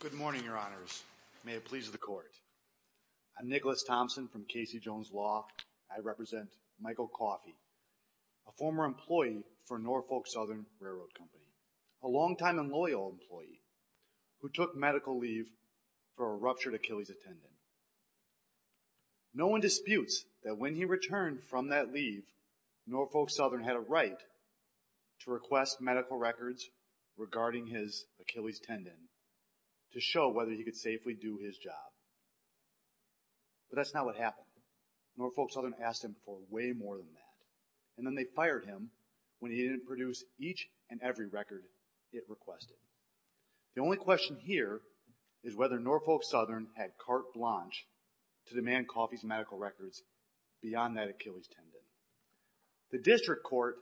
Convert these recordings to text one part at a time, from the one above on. Good morning, Your Honors. May it please the Court. I'm Nicholas Thompson from Casey Jones Law. I represent Michael Coffey, a former employee for Norfolk Southern Railroad Company, a longtime and loyal employee who took medical leave for a ruptured Achilles tendon. No one disputes that when he returned from that leave, Norfolk Southern had a right to request medical records regarding his Achilles tendon to show whether he could safely do his job. But that's not what happened. Norfolk Southern asked him for way more than that, and then they fired him when he didn't produce each and every record it requested. The only question here is whether Norfolk Southern had carte blanche to demand Coffey's medical records beyond that Achilles tendon. The district court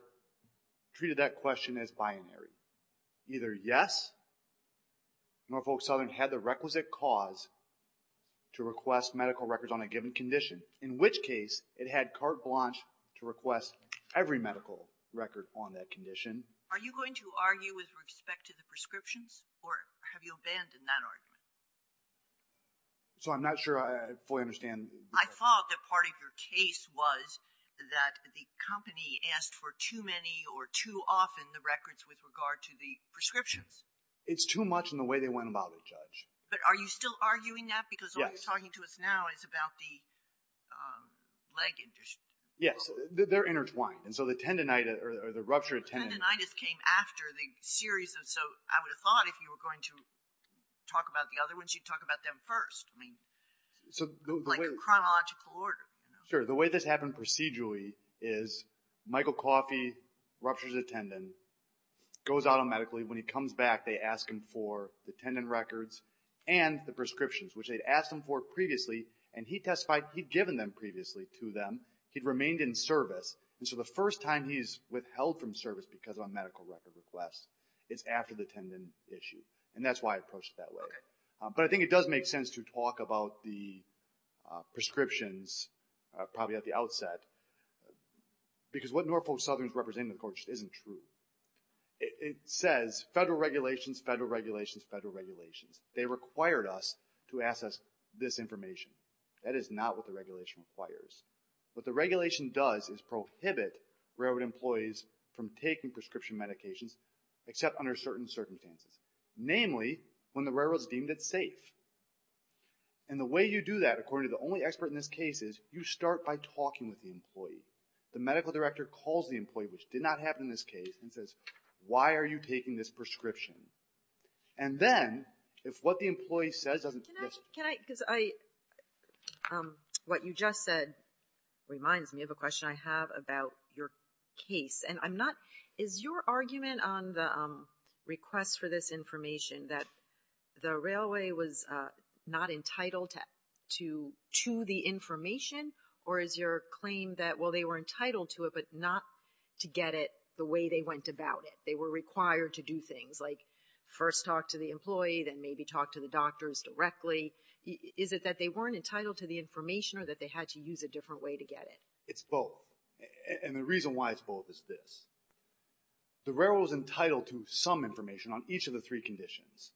treated that question as binary. Either yes, Norfolk Southern had the requisite cause to request medical records on a given condition, in which case it had carte blanche to request every medical record on that condition. Are you going to argue with respect to the prescriptions or have you abandoned that argument? So I'm not sure I fully understand. I thought that part of your case was that the company asked for too many or too often the records with regard to the prescriptions. It's too much in the way they went about it, Judge. But are you still arguing that? Because what you're talking to us now is about the leg injury. Yes, they're intertwined. And so the tendonitis or the ruptured tendonitis came after the series of... So I would have thought if you were going to talk about the other ones, you'd talk about them first. I mean, like a chronological order. Sure. The way this happened procedurally is Michael Coffey ruptures a tendon, goes out on medically. When he comes back, they ask him for the tendon records and the prescriptions, which they'd asked him for previously. And he testified he'd given them previously to them. He'd remained in service. And so the first time he's withheld from service because of a medical record request is after the tendon issue. And that's why I approached it that way. But I think it does make sense to talk about the prescriptions, probably at the outset, because what Norfolk Southern is representing, of course, isn't true. It says federal regulations, federal regulations, federal regulations. They required us to ask us this information. That is not what the regulation requires. What the regulation does is prohibit railroad employees from taking prescription medications, except under certain circumstances. Namely, when the railroad is deemed it's safe. And the way you do that, according to the only expert in this case, is you start by talking with the employee. The medical director calls the employee, which did not happen in this case, and says, why are you taking this prescription? And then if what the employee says doesn't... Can I, because I, what you just said reminds me of a question I have about your case. And I'm not, is your argument on the request for this information that the railway was not entitled to the information? Or is your claim that, well, they were entitled to it, but not to get it the way they went about it. They were required to do things like first talk to the employee, then maybe talk to the doctors directly. Is it that they weren't entitled to the information or that they had to use a different way to get it? It's both. And the reason why it's both is this. The railroad was entitled to some information on each of the three conditions.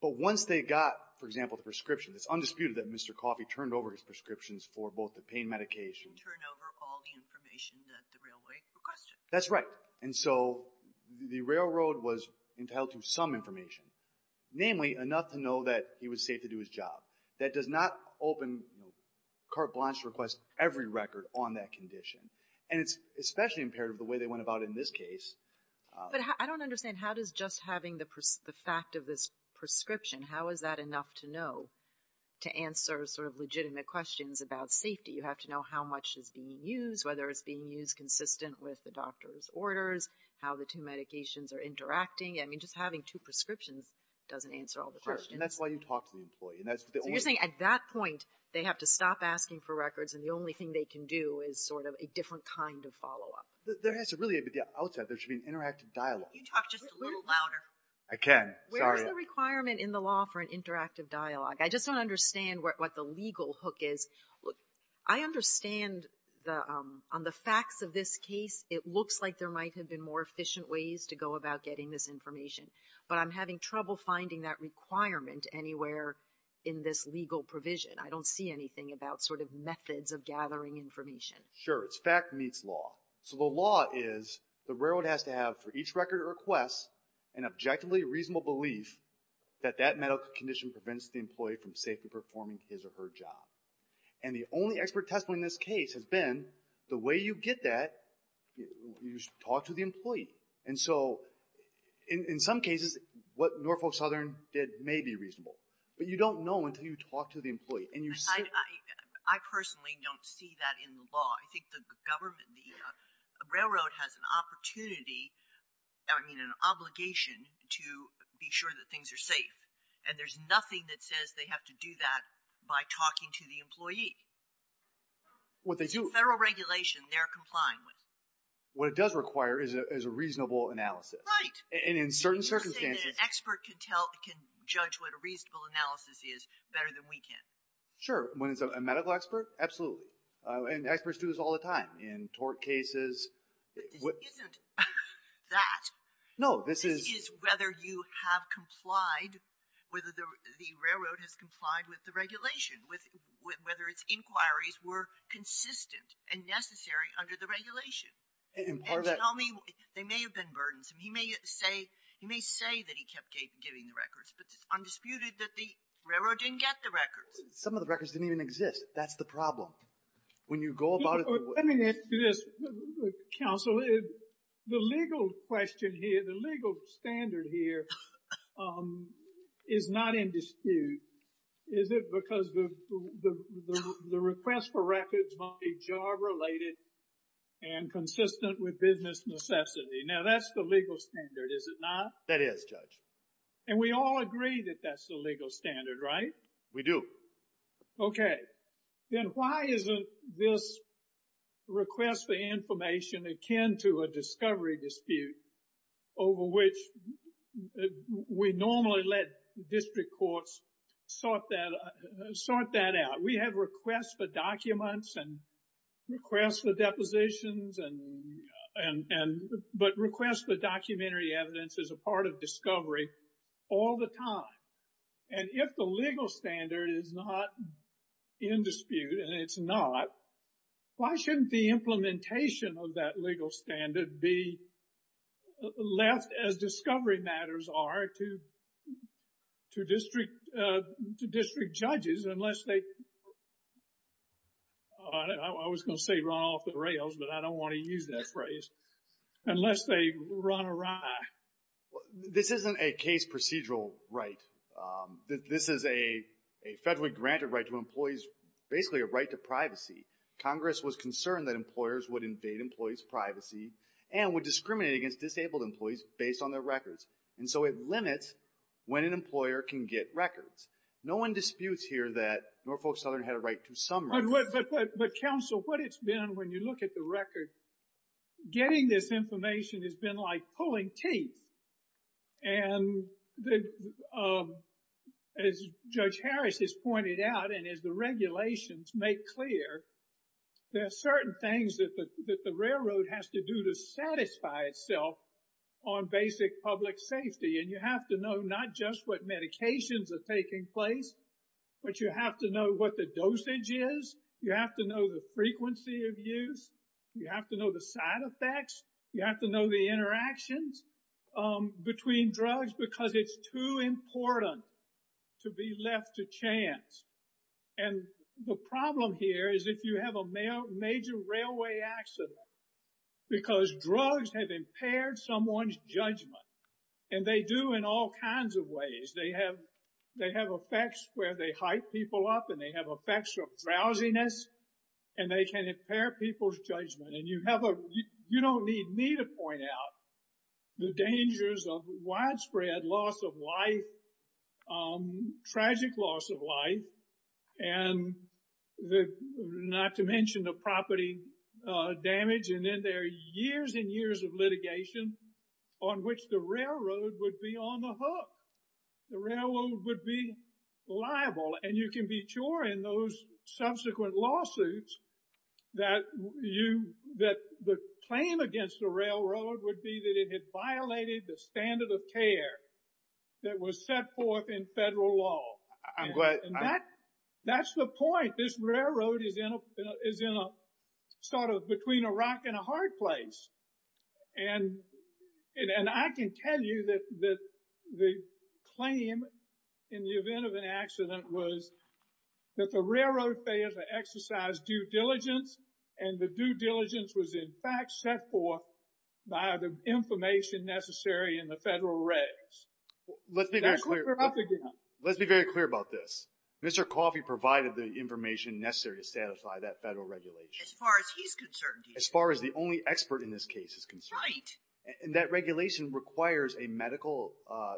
But once they got, for example, the prescription, it's undisputed that Mr. Coffey turned over his prescriptions for both the pain medication... Turned over all the information that the railway requested. That's right. And so the railroad was entitled to some information, namely enough to know that he was safe to do his job. That does not open, you know, carte blanche to request every record on that condition. And it's especially imperative the way they went about it in this case. But I don't understand, how does just having the fact of this prescription, how is that enough to know to answer sort of legitimate questions about safety? You have to know how much is being used, whether it's being used consistent with the doctor's orders, how the two medications are interacting. I mean, just having two prescriptions doesn't answer all the questions. And that's why you talk to the employee. So you're saying at that point, they have to stop asking for records, and the only thing they can do is sort of a different kind of follow-up. There has to really, at the outset, there should be an interactive dialogue. Can you talk just a little louder? I can. Sorry. Where is the requirement in the law for an interactive dialogue? I just don't understand what the legal hook is. Look, I understand on the facts of this case, it looks like there might have been more efficient ways to go about getting this information. But I'm having trouble finding that requirement anywhere in this legal provision. I don't see anything about sort of methods of gathering information. Sure. It's fact meets law. So the law is the railroad has to have, for each record request, an objectively reasonable belief that that medical condition prevents the employee from safely performing his or her job. And the only expert testimony in this case has been the way you get that, you talk to the employee. And so in some cases, what Norfolk Southern did may be reasonable. But you don't know until you talk to the employee. And I personally don't see that in the law. I think the government, the railroad has an opportunity, I mean, an obligation to be sure that things are safe. And there's nothing that says they have to do that by talking to the employee. What they do— What they are complying with. What it does require is a reasonable analysis. Right. And in certain circumstances— You're saying that an expert can tell, can judge what a reasonable analysis is better than we can. Sure. When it's a medical expert, absolutely. And experts do this all the time in tort cases. But this isn't that. No, this is— This is whether you have complied, whether the railroad has complied with the regulation, whether its inquiries were consistent and necessary under the regulation. And part of that— And to tell me, they may have been burdensome. He may say that he kept giving the records. But it's undisputed that the railroad didn't get the records. Some of the records didn't even exist. That's the problem. When you go about it— Let me ask you this, counsel. The legal question here, the legal standard here is not in dispute, is it? Because the request for records might be job-related and consistent with business necessity. Now, that's the legal standard, is it not? That is, Judge. And we all agree that that's the legal standard, right? We do. Okay. Then why isn't this request for information akin to a discovery dispute over which we normally let district courts sort that out? We have requests for documents and requests for depositions, but requests for documentary evidence is a part of discovery all the time. And if the legal standard is not in dispute, and it's not, why shouldn't the implementation of that legal standard be left as discovery matters are to district judges unless they— I was going to say run off the rails, but I don't want to use that phrase— unless they run awry. This isn't a case procedural right. This is a federally granted right to employees, basically a right to privacy. Congress was concerned that employers would invade employees' privacy and would discriminate against disabled employees based on their records. And so it limits when an employer can get records. No one disputes here that Norfolk Southern had a right to some records. But counsel, what it's been when you look at the record, getting this information has been like pulling teeth. And as Judge Harris has pointed out, and as the regulations make clear, there are certain things that the railroad has to do to satisfy itself on basic public safety. And you have to know not just what medications are taking place, but you have to know what the dosage is. You have to know the frequency of use. You have to know the side effects. You have to know the interactions between drugs because it's too important to be left to chance. And the problem here is if you have a major railway accident, because drugs have impaired someone's judgment, and they do in all kinds of ways. They have effects where they hype people up, and they have effects of drowsiness, and they can impair people's judgment. And you don't need me to point out the dangers of widespread loss of life, tragic loss of life, and not to mention the property damage. And then there are years and years of litigation on which the railroad would be on the hook. The railroad would be liable. And you can be sure in those subsequent lawsuits that the claim against the railroad would be that it had violated the standard of care that was set forth in federal law. And that's the point. This railroad is in a sort of between a rock and a hard place. And I can tell you that the claim in the event of an accident was that the railroad failed to exercise due diligence, and the due diligence was in fact set forth by the information necessary in the federal regs. Let's be very clear about this. Mr. Coffey provided the information necessary to satisfy that federal regulation. As far as he's concerned. As far as the only expert in this case is concerned. Right. And that regulation requires a medical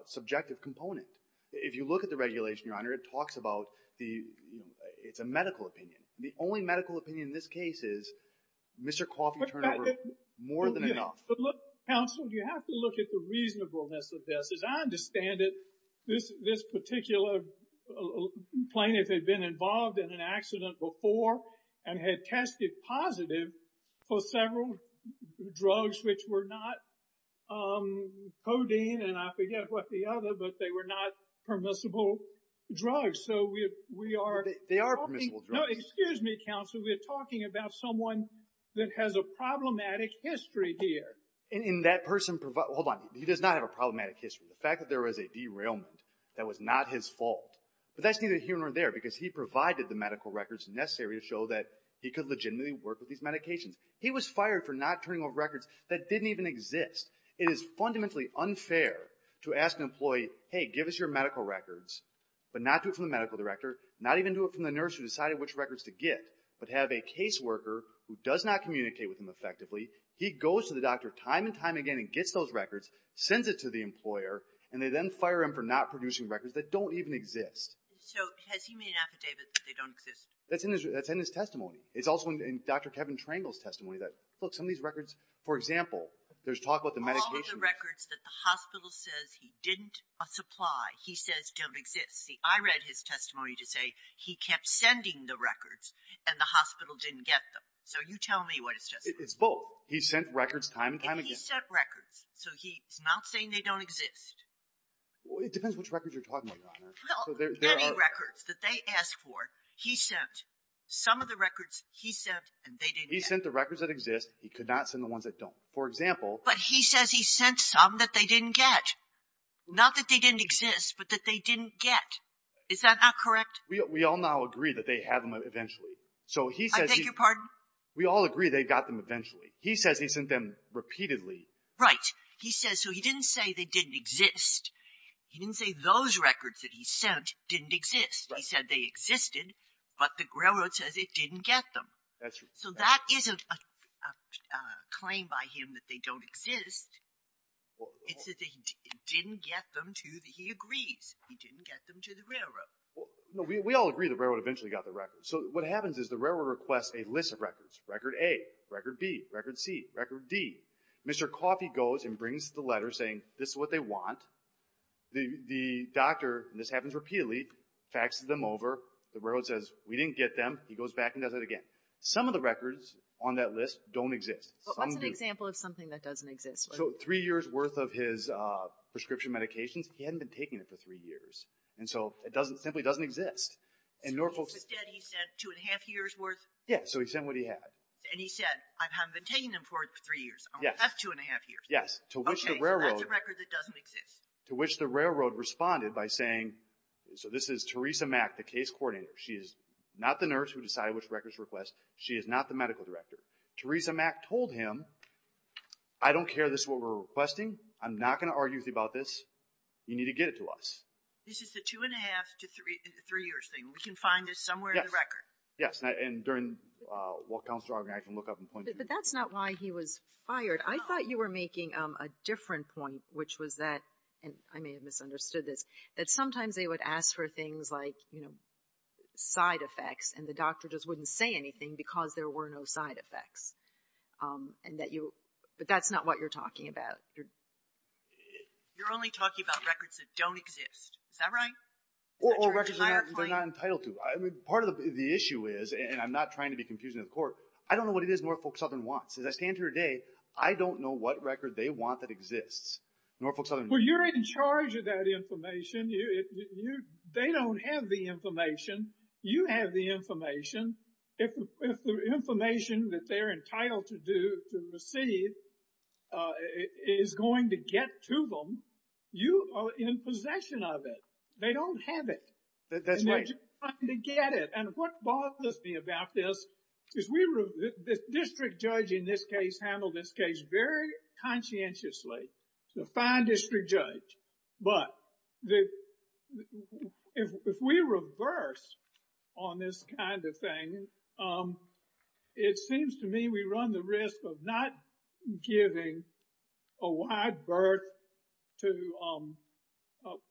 subjective component. If you look at the regulation, Your Honor, it talks about the, it's a medical opinion. The only medical opinion in this case is Mr. Coffey turned over more than enough. But look, counsel, you have to look at the reasonableness of this. As I understand it, this particular plaintiff had been involved in an accident before and had tested positive for several drugs which were not codeine, and I forget what the other, but they were not permissible drugs. So we are... They are permissible drugs. No, excuse me, counsel. We're talking about someone that has a problematic history here. And that person, hold on. He does not have a problematic history. The fact that there was a derailment, that was not his fault. But that's neither here nor there because he provided the medical records necessary to show that he could legitimately work with these medications. He was fired for not turning over records that didn't even exist. It is fundamentally unfair to ask an employee, hey, give us your medical records, but not do it from the medical director, not even do it from the nurse who decided which records to get, but have a caseworker who does not communicate with him effectively. He goes to the doctor time and time again and gets those records, sends it to the employer, and they then fire him for not producing records that don't even exist. So has he made an affidavit that they don't exist? That's in his testimony. It's also in Dr. Kevin Trangle's testimony that, look, some of these records, for example, there's talk about the medications. All of the records that the hospital says he didn't supply, he says don't exist. See, I read his testimony to say he kept sending the records and the hospital didn't get them. So you tell me what his testimony is. It's both. He sent records time and time again. And he sent records. So he's not saying they don't exist. It depends which records you're talking about, Your Honor. Well, many records that they asked for, he sent. Some of the records he sent and they didn't get. He sent the records that exist. He could not send the ones that don't. For example... But he says he sent some that they didn't get. Not that they didn't exist, but that they didn't get. Is that not correct? We all now agree that they have them eventually. So he says... I beg your pardon? We all agree they got them eventually. He says he sent them repeatedly. Right. He says so he didn't say they didn't exist. He didn't say those records that he sent didn't exist. He said they existed, but the railroad says it didn't get them. That's true. So that isn't a claim by him that they don't exist. It's that he didn't get them to the... He agrees he didn't get them to the railroad. We all agree the railroad eventually got the records. So what happens is the railroad requests a list of records. Record A, record B, record C, record D. Mr. Coffey goes and brings the letter saying this is what they want. The doctor, and this happens repeatedly, faxes them over. The railroad says we didn't get them. He goes back and does it again. Some of the records on that list don't exist. What's an example of something that doesn't exist? So three years worth of his prescription medications, he hadn't been taking it for three years. And so it simply doesn't exist. So instead he sent two and a half years worth? Yeah, so he sent what he had. And he said I haven't been taking them for three years. I only have two and a half years. Yes. So that's a record that doesn't exist. To which the railroad responded by saying... So this is Teresa Mack, the case coordinator. She is not the nurse who decided which records to request. She is not the medical director. Teresa Mack told him, I don't care this is what we're requesting. I'm not going to argue with you about this. You need to get it to us. This is the two and a half to three years thing. We can find this somewhere in the record. Yes, and during what Councilor Auger and I can look up and point to. But that's not why he was fired. I thought you were making a different point which was that, and I may have misunderstood this, that sometimes they would ask for things like, you know, side effects and the doctor just wouldn't say anything because there were no side effects. And that you, but that's not what you're talking about. You're only talking about records that don't exist. Is that right? Or records they're not entitled to. Part of the issue is, and I'm not trying to be confusing to the Court. I don't know what it is Norfolk Southern wants. As I stand here today, I don't know what record they want that exists. Norfolk Southern... Well, you're in charge of that information. You, they don't have the information. You have the information. If the information that they're entitled to do, to receive, is going to get to them, you are in possession of it. They don't have it. That's right. And they're just trying to get it. And what bothers me about this is we were, the district judge in this case handled this case very conscientiously. It's a fine district judge. But if we reverse on this kind of thing, it seems to me we run the risk of not giving a wide berth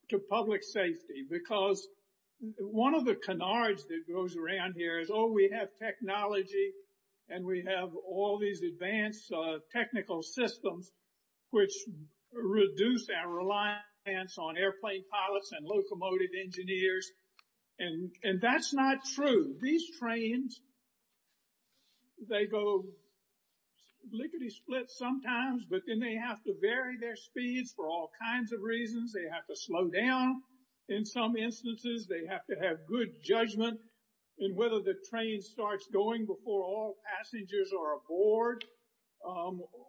to public safety. Because one of the canards that goes around here is, oh, we have technology and we have all these advanced technical systems, which reduce our reliance on airplane pilots and locomotive engineers. And that's not true. These trains, they go lickety split sometimes, but then they have to vary their speeds for all kinds of reasons. They have to slow down in some instances. They have to have good judgment in whether the train starts going before all passengers are aboard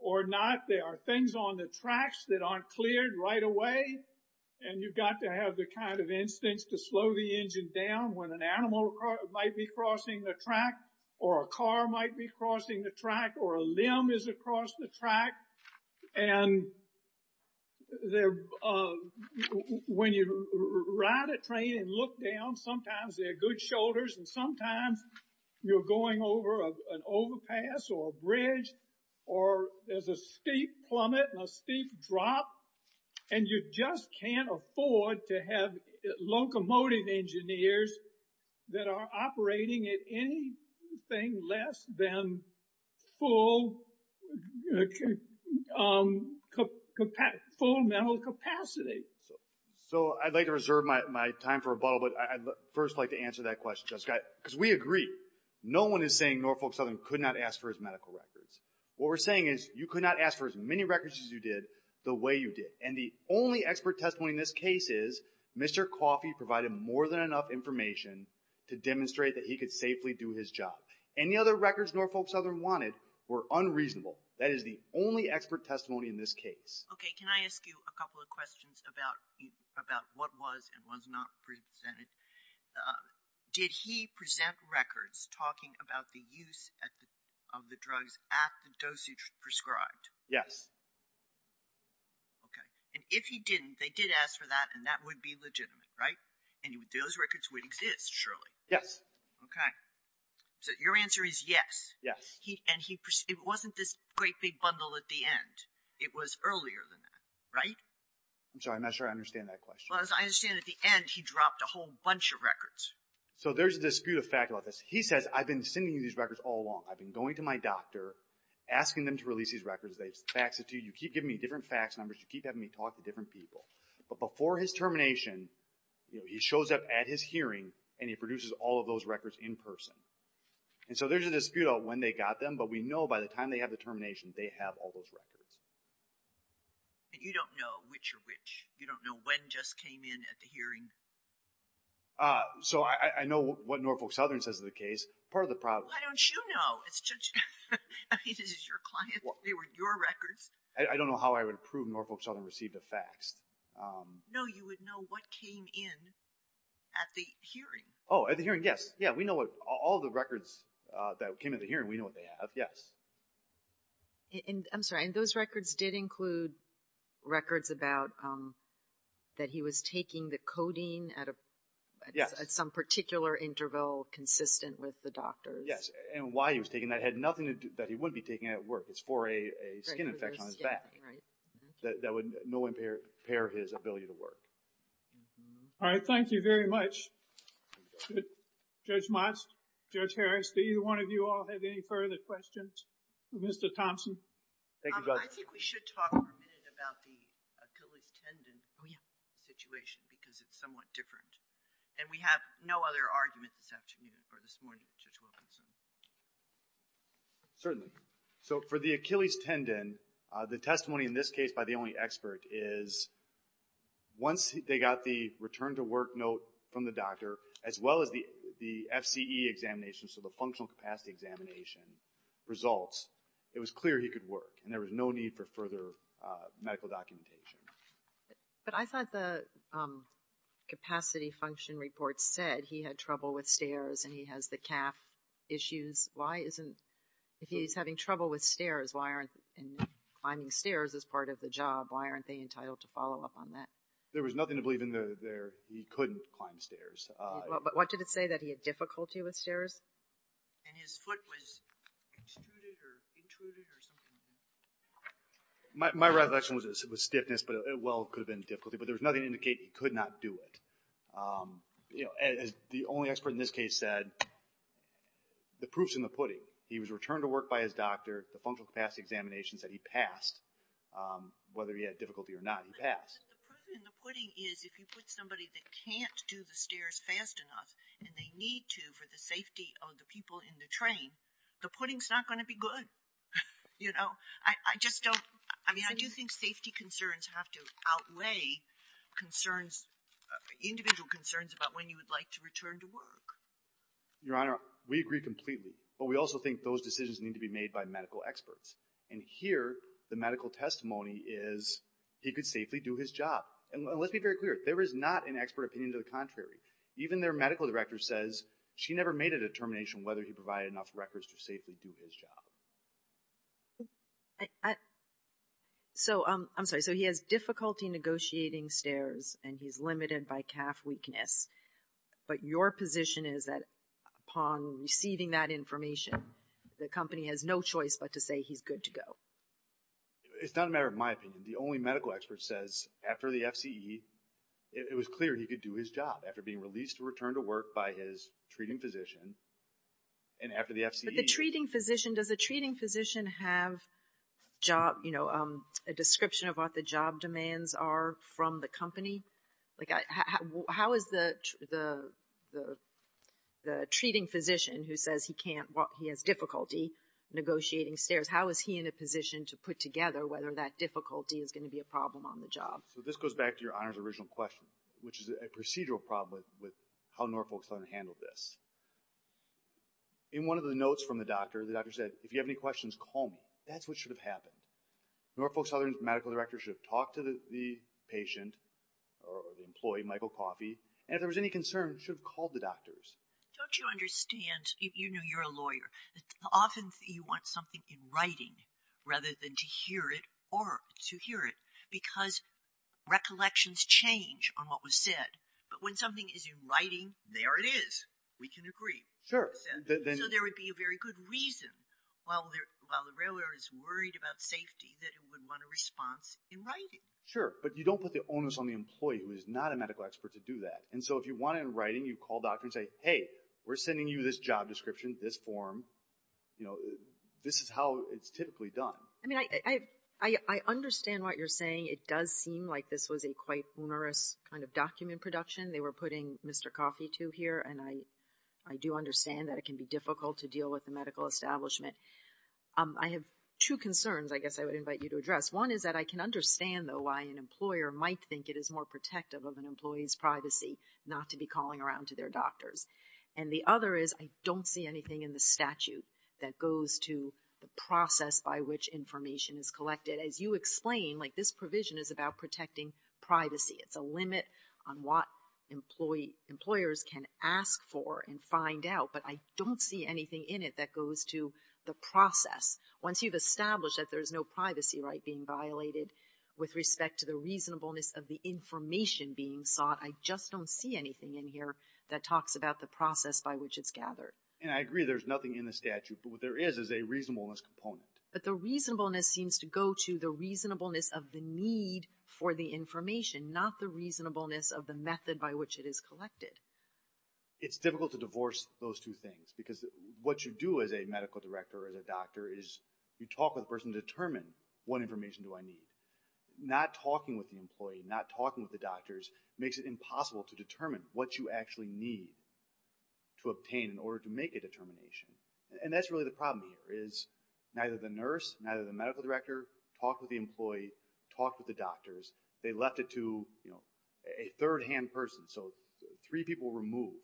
or not. There are things on the tracks that aren't cleared right away. And you've got to have the kind of instincts to slow the engine down when an animal might be crossing the track or a car might be crossing the track or a limb is across the track. And when you ride a train and look down, sometimes they're good shoulders and sometimes you're going over an overpass or a bridge or there's a steep plummet and a steep drop. And you just can't afford to have locomotive engineers that are operating at anything less than full mental capacity. So I'd like to reserve my time for rebuttal, but I'd first like to answer that question, Judge Scott. Because we agree, no one is saying Norfolk Southern could not ask for his medical records. What we're saying is you could not ask for as many records as you did, the way you did. And the only expert testimony in this case is Mr. Coffey provided more than enough information to demonstrate that he could safely do his job. Any other records Norfolk Southern wanted were unreasonable. That is the only expert testimony in this case. Okay, can I ask you a couple of questions about what was and was not presented? Did he present records talking about the use of the drugs at the dosage prescribed? Yes. Okay, and if he didn't, they did ask for that and that would be legitimate, right? And those records would exist, surely? Yes. Okay, so your answer is yes. Yes. And it wasn't this great big bundle at the end. It was earlier than that, right? I'm sorry, I'm not sure I understand that question. I understand at the end, he dropped a whole bunch of records. So there's a dispute of fact about this. He says, I've been sending you these records all along. I've been going to my doctor, asking them to release these records. They fax it to you. You keep giving me different fax numbers. You keep having me talk to different people. But before his termination, he shows up at his hearing and he produces all of those records in person. And so there's a dispute about when they got them, but we know by the time they have the termination, they have all those records. And you don't know which are which. You don't know when just came in at the hearing. So I know what Norfolk Southern says is the case. Part of the problem... Why don't you know? I mean, this is your client. They were your records. I don't know how I would prove Norfolk Southern received a fax. No, you would know what came in at the hearing. Oh, at the hearing, yes. Yeah, we know what all the records that came at the hearing, we know what they have. Yes. I'm sorry, and those records did include records about that he was taking the codeine at some particular interval consistent with the doctor's. Yes, and why he was taking that had nothing to do... that he wouldn't be taking at work. It's for a skin infection on his back. That would no impair his ability to work. All right. Thank you very much. Judge Motz, Judge Harris, do either one of you all have any further questions? Mr. Thompson? I think we should talk for a minute about the Achilles tendon situation because it's somewhat different. And we have no other argument this afternoon or this morning, Judge Wilkinson. Certainly. So for the Achilles tendon, the testimony in this case by the only expert is once they got the return to work note from the doctor as well as the FCE examination, so the functional capacity examination results, it was clear he could work and there was no need for further medical documentation. But I thought the capacity function report said he had trouble with stairs and he has the calf issues. Why isn't... if he's having trouble with stairs, why aren't... and climbing stairs is part of the job, why aren't they entitled to follow up on that? There was nothing to believe in there. He couldn't climb stairs. But what did it say? That he had difficulty with stairs? And his foot was extruded or intruded or something like that? My reflection was stiffness, but it well could have been difficulty, but there was nothing to indicate he could not do it. As the only expert in this case said, the proof's in the pudding. He was returned to work by his doctor, the functional capacity examination said he passed whether he had difficulty or not, he passed. But the proof in the pudding is if you put somebody that can't do the stairs fast enough and they need to for the safety of the people in the train, the pudding's not going to be good. I just don't, I mean, I do think safety concerns have to outweigh concerns, individual concerns about when you would like to return to work. Your Honor, we agree completely, but we also think those decisions need to be made by medical experts. And here, the medical testimony is he could safely do his job. And let's be very clear, there is not an expert opinion to the contrary. Even their medical director says she never made a determination whether he provided enough records to safely do his job. I, so, I'm sorry. So he has difficulty negotiating stairs and he's limited by calf weakness. But your position is that upon receiving that information, the company has no choice but to say he's good to go. It's not a matter of my opinion. The only medical expert says after the FCE, it was clear he could do his job after being released to return to work by his treating physician. And after the FCE- But the treating physician, does the treating physician have job, you know, a description of what the job demands are from the company? Like, how is the treating physician who says he can't walk, he has difficulty negotiating stairs, how is he in a position to put together whether that difficulty is going to be a problem on the job? So this goes back to your Honor's original question, which is a procedural problem with how Norfolk is going to handle this. In one of the notes from the doctor, the doctor said, if you have any questions, call me. That's what should have happened. Norfolk's other medical directors should have talked to the patient or the employee, Michael Coffey, and if there was any concern, should have called the doctors. Don't you understand, you know you're a lawyer, often you want something in writing rather than to hear it or to hear it because recollections change on what was said. But when something is in writing, there it is. We can agree. Sure. So there would be a very good reason while the railroad is worried about safety that it would want a response in writing. Sure, but you don't put the onus on the employee who is not a medical expert to do that. And so if you want it in writing, you call a doctor and say, hey, we're sending you this job description, this form, you know, this is how it's typically done. I mean, I understand what you're saying. It does seem like this was a quite onerous kind of document production they were putting Mr. Coffey to here. And I do understand that it can be difficult to deal with the medical establishment. I have two concerns I guess I would invite you to address. One is that I can understand though why an employer might think it is more protective of an employee's privacy not to be calling around to their doctors. And the other is I don't see anything in the statute that goes to the process by which information is collected. As you explain, like this provision is about protecting privacy. It's a limit on what employers can ask for and find out, but I don't see anything in it that goes to the process. Once you've established that there's no privacy right being violated with respect to the reasonableness of the information being sought, I just don't see anything in here that talks about the process by which it's gathered. And I agree there's nothing in the statute, but what there is is a reasonableness component. But the reasonableness seems to go to the reasonableness of the need for the information, not the reasonableness of the method by which it is collected. It's difficult to divorce those two things because what you do as a medical director or as a doctor is you talk with a person to determine what information do I need. Not talking with the employee, not talking with the doctors makes it impossible to determine what you actually need to obtain in order to make a determination. And that's really the problem here is neither the nurse, neither the medical director talked with the employee, talked with the doctors. They left it to, you know, a third-hand person. So three people removed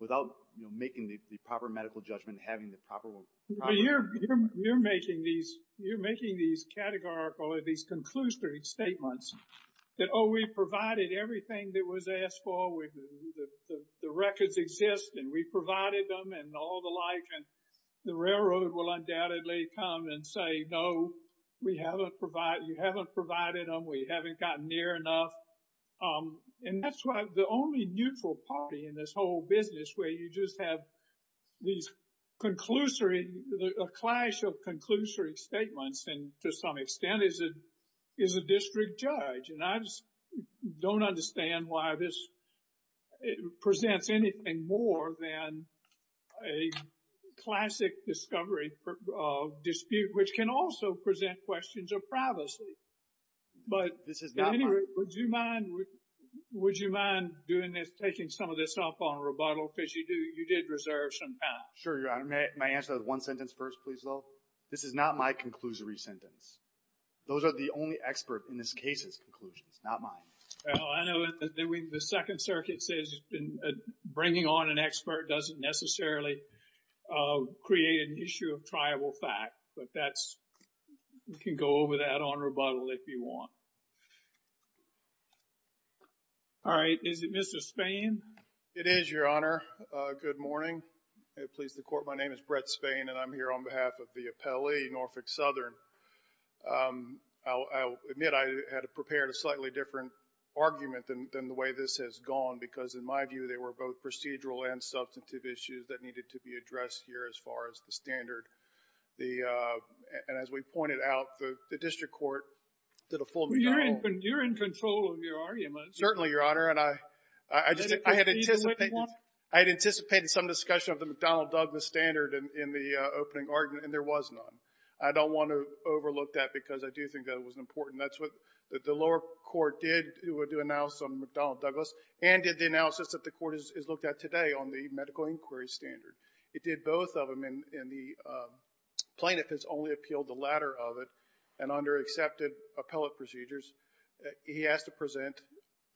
without making the proper medical judgment, having the proper... But you're making these categorical, these conclusory statements that, oh, we provided everything that was asked for, the records exist, and we provided them and all the like, and the railroad will undoubtedly come and say, no, we haven't provided, you haven't provided them, we haven't gotten near enough. And that's why the only neutral party in this whole business where you just have these conclusory, a clash of conclusory statements and to some extent is a district judge. And I just don't understand why this presents anything more than a classic discovery dispute, which can also present questions of privacy. But would you mind doing this, taking some of this up on rebuttal? Because you did reserve some time. Sure, Your Honor. May I answer that one sentence first, please, though? This is not my conclusory sentence. Those are the only expert in this case's conclusions, not mine. Well, I know the Second Circuit says bringing on an expert doesn't necessarily create an issue of triable fact, but that's, you can go over that on rebuttal if you want. All right, is it Mr. Spain? It is, Your Honor. Good morning. Please, the Court, my name is Brett Spain and I'm here on behalf of the appellee, Norfolk Southern. I'll admit I had prepared a slightly different argument than the way this has gone because in my view, they were both procedural and substantive issues that needed to be addressed here as far as the standard. The, and as we pointed out, the district court did a full rebuttal. You're in control of your arguments. Certainly, Your Honor, and I had anticipated some discussion of the McDonnell-Douglas standard in the opening argument and there was none. I don't want to overlook that because I do think that it was important. That's what the lower court did to announce on McDonnell-Douglas and did the analysis that the court has looked at today on the medical inquiry standard. It did both of them and the plaintiff has only appealed the latter of it and under accepted appellate procedures, he has to present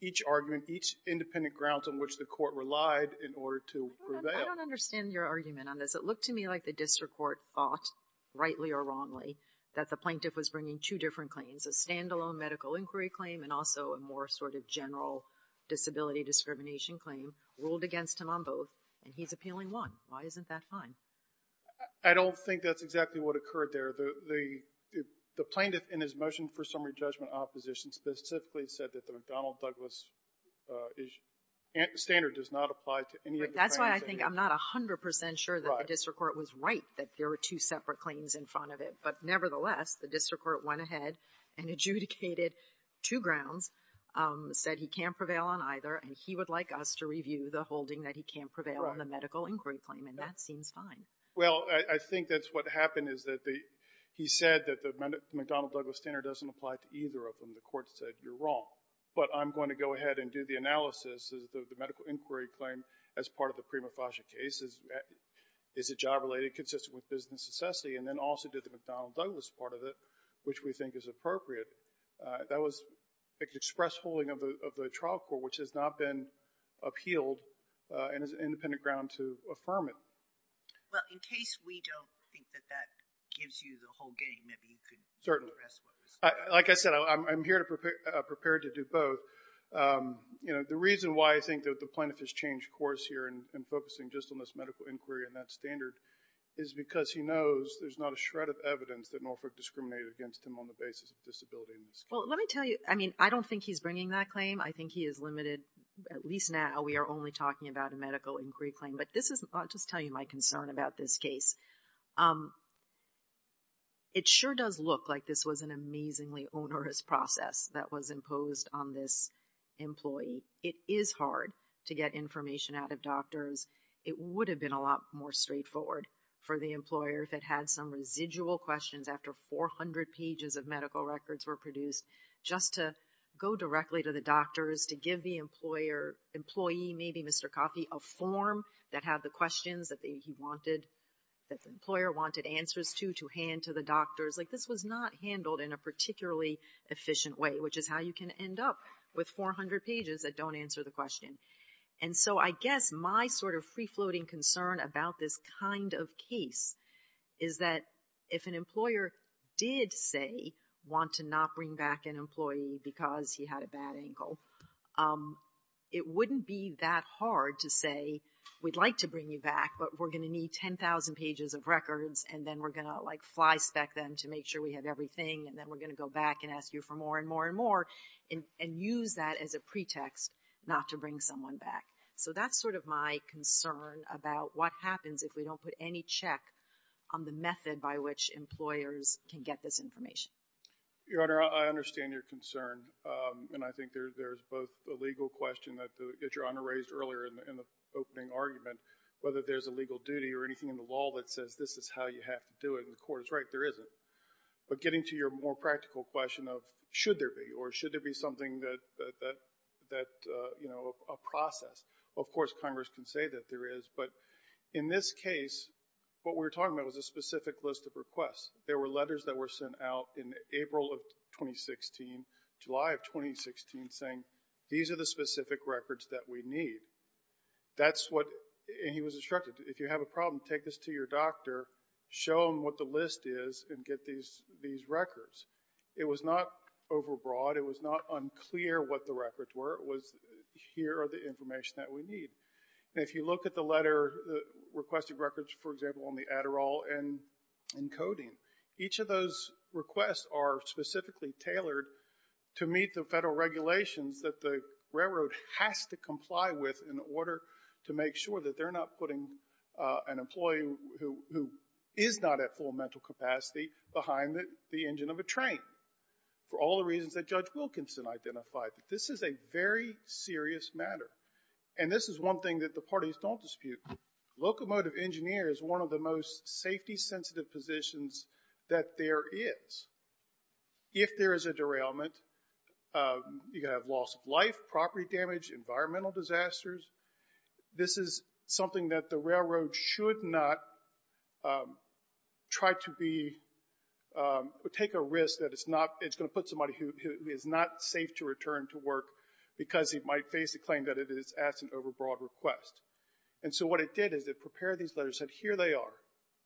each argument, each independent grounds on which the court relied in order to prevail. I don't understand your argument on this. It looked to me like the district court thought, rightly or wrongly, that the plaintiff was bringing two different claims, a standalone medical inquiry claim and also a more sort of general disability discrimination claim ruled against him on both and he's appealing one. Why isn't that fine? I don't think that's exactly what occurred there. The plaintiff in his motion for summary judgment opposition specifically said that the McDonnell-Douglas standard does not apply to any of the claims. That's why I think I'm not 100 percent sure that the district court was right that there were two separate claims in front of it. But nevertheless, the district court went ahead and adjudicated two grounds, said he can't prevail on either and he would like us to review the holding that he can't prevail on the medical inquiry claim and that seems fine. Well, I think that's what happened is that he said that the McDonnell-Douglas standard doesn't apply to either of them. The court said, you're wrong, but I'm going to go ahead and do the analysis of the medical inquiry claim as part of the prima facie case. Is it job related? Consistent with business necessity and then also did the McDonnell-Douglas part of it, which we think is appropriate. That was express holding of the trial court, which has not been appealed and is an independent ground to affirm it. Well, in case we don't think that that gives you the whole game, maybe you could address what was said. Like I said, I'm here to prepare to do both. You know, the reason why I think that the plaintiff has changed course here and focusing just on this medical inquiry and that standard is because he knows there's not a shred of evidence that Norfolk discriminated against him on the basis of disability. Well, let me tell you, I mean, I don't think he's bringing that claim. I think he is limited, at least now, we are only talking about a medical inquiry claim. But this is, I'll just tell you my concern about this case. It sure does look like this was an amazingly onerous process that was imposed on this employee. It is hard to get information out of doctors. It would have been a lot more straightforward for the employer if it had some residual questions after 400 pages of medical records were produced just to go directly to the doctors, to give the employee, maybe Mr. Coffey, a form that had the questions that the employer wanted answers to, to hand to the doctors. Like this was not handled in a particularly efficient way, which is how you can end up with 400 pages that don't answer the question. And so I guess my sort of free-floating concern about this kind of case is that if an employer did say want to not bring back an employee because he had a bad ankle, um, it wouldn't be that hard to say we'd like to bring you back, but we're going to need 10,000 pages of records, and then we're going to, like, flyspeck them to make sure we have everything, and then we're going to go back and ask you for more and more and more, and use that as a pretext not to bring someone back. So that's sort of my concern about what happens if we don't put any check on the method by which employers can get this information. Your Honor, I understand your concern, and I think there's a legal question that Your Honor raised earlier in the opening argument, whether there's a legal duty or anything in the law that says this is how you have to do it, and the Court is right, there isn't. But getting to your more practical question of should there be, or should there be something that, that, you know, a process. Of course, Congress can say that there is, but in this case, what we're talking about is a specific list of requests. There were letters that were sent out in April of 2016, July of 2016, saying these are the specific records that we need. That's what, and he was instructed, if you have a problem, take this to your doctor, show them what the list is, and get these, these records. It was not overbroad. It was not unclear what the records were. It was, here are the information that we need. And if you look at the letter, the requested records, for example, on the Adderall and in coding, each of those requests are specifically tailored to meet the federal regulations that the railroad has to comply with in order to make sure that they're not putting an employee who is not at full mental capacity behind the engine of a train, for all the reasons that Judge Wilkinson identified, that this is a very serious matter. And this is one thing that the parties don't dispute. Locomotive engineers, one of the most safety sensitive positions that there is, if there is a derailment, you're going to have loss of life, property damage, environmental disasters. This is something that the railroad should not try to be, take a risk that it's not, it's going to put somebody who is not safe to return to work because he might face the claim that it is asked an overbroad request. And so what it did is it prepared these letters and said, here they are.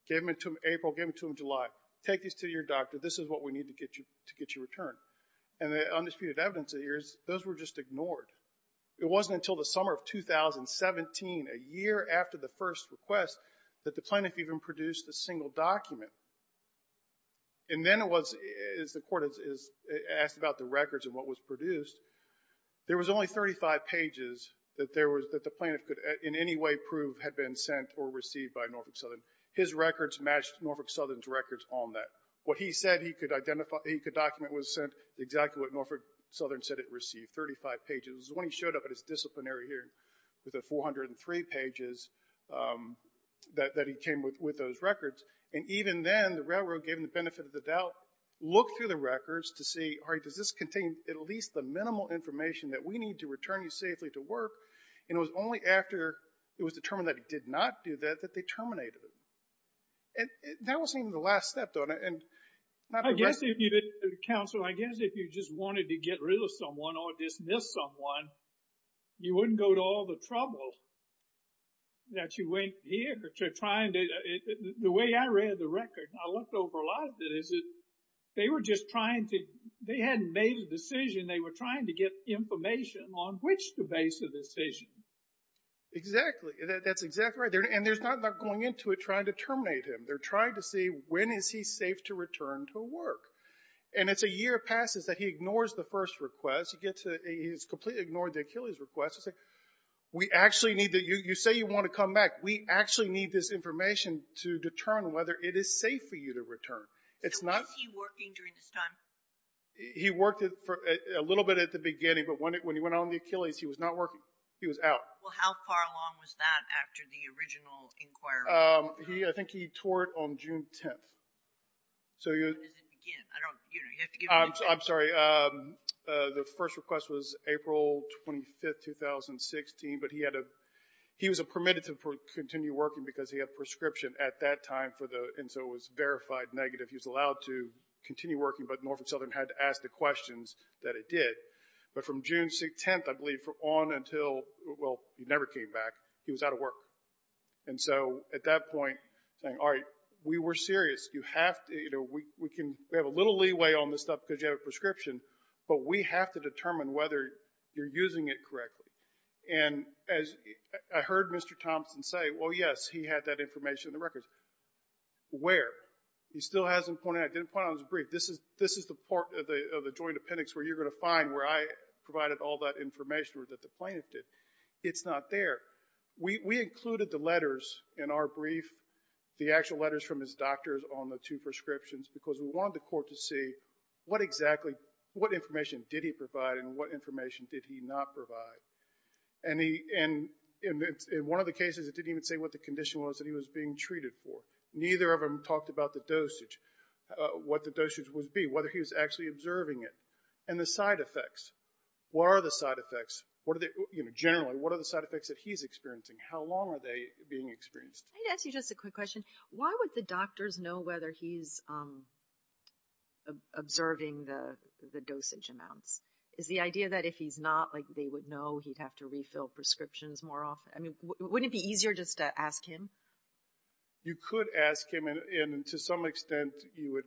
Gave them to him April, gave them to him July. Take these to your doctor. This is what we need to get you return. And the undisputed evidence here is those were just ignored. It wasn't until the summer of 2017, a year after the first request, that the plaintiff even produced a single document. And then it was, as the court is asked about the records and what was produced, there was only 35 pages that the plaintiff could in any way prove had been sent or received by Norfolk Southern. His records matched Norfolk Southern's records on that. What he said he could document was sent exactly what Norfolk Southern said it received, 35 pages. It was when he showed up at his disciplinary hearing with the 403 pages that he came with those records. And even then, the railroad gave him the benefit of the doubt. Looked through the records to see, all right, does this contain at least the minimal information that we need to return you safely to work? And it was only after it was determined that he did not do that, that they terminated it. And that wasn't even the last step, though. I guess if you did, counsel, I guess if you just wanted to get rid of someone or dismiss someone, you wouldn't go to all the trouble that you went here to trying to... The way I read the record, I looked over a lot of it, is that they were just trying to... They hadn't made a decision. They were trying to get information on which to base the decision. Exactly. That's exactly right. And they're not going into it trying to terminate him. They're trying to see when is he safe to return to work? And it's a year passes that he ignores the first request. He gets to... He's completely ignored the Achilles request. We actually need to... You say you want to come back. We actually need this information to determine whether it is safe for you to return. It's not... So was he working during this time? He worked for a little bit at the beginning, but when he went on the Achilles, he was not working. He was out. Well, how far along was that after the original inquiry? I think he toured on June 10th. So... I'm sorry. The first request was April 25th, 2016, but he had a... He was permitted to continue working because he had prescription at that time for the... And so it was verified negative. He was allowed to continue working, but Norfolk Southern had to ask the questions that it did. But from June 10th, I believe on until... Well, he never came back. He was out of work. And so at that point, saying, all right, we were serious. You have to... You know, we can... We have a little leeway on this stuff because you have a prescription, but we have to determine whether you're using it correctly. And as I heard Mr. Thompson say, well, yes, he had that information in the records. Where? He still hasn't pointed out. I didn't point out his brief. This is the part of the joint appendix where you're going to find where I provided all that information that the plaintiff did. It's not there. We included the letters in our brief, the actual letters from his doctors on the two prescriptions because we wanted the court to see what exactly... What information did he provide and what information did he not provide? And in one of the cases, it didn't even say what the condition was that he was being treated for. Neither of them talked about the dosage, what the dosage would be, whether he was actually observing it and the side effects. What are the side effects? What are the... Generally, what are the side effects that he's experiencing? How long are they being experienced? Can I ask you just a quick question? Why would the doctors know whether he's observing the dosage amounts? Is the idea that if he's not, like they would know he'd have to refill prescriptions more often? I mean, wouldn't it be easier just to ask him? You could ask him and to some extent you would...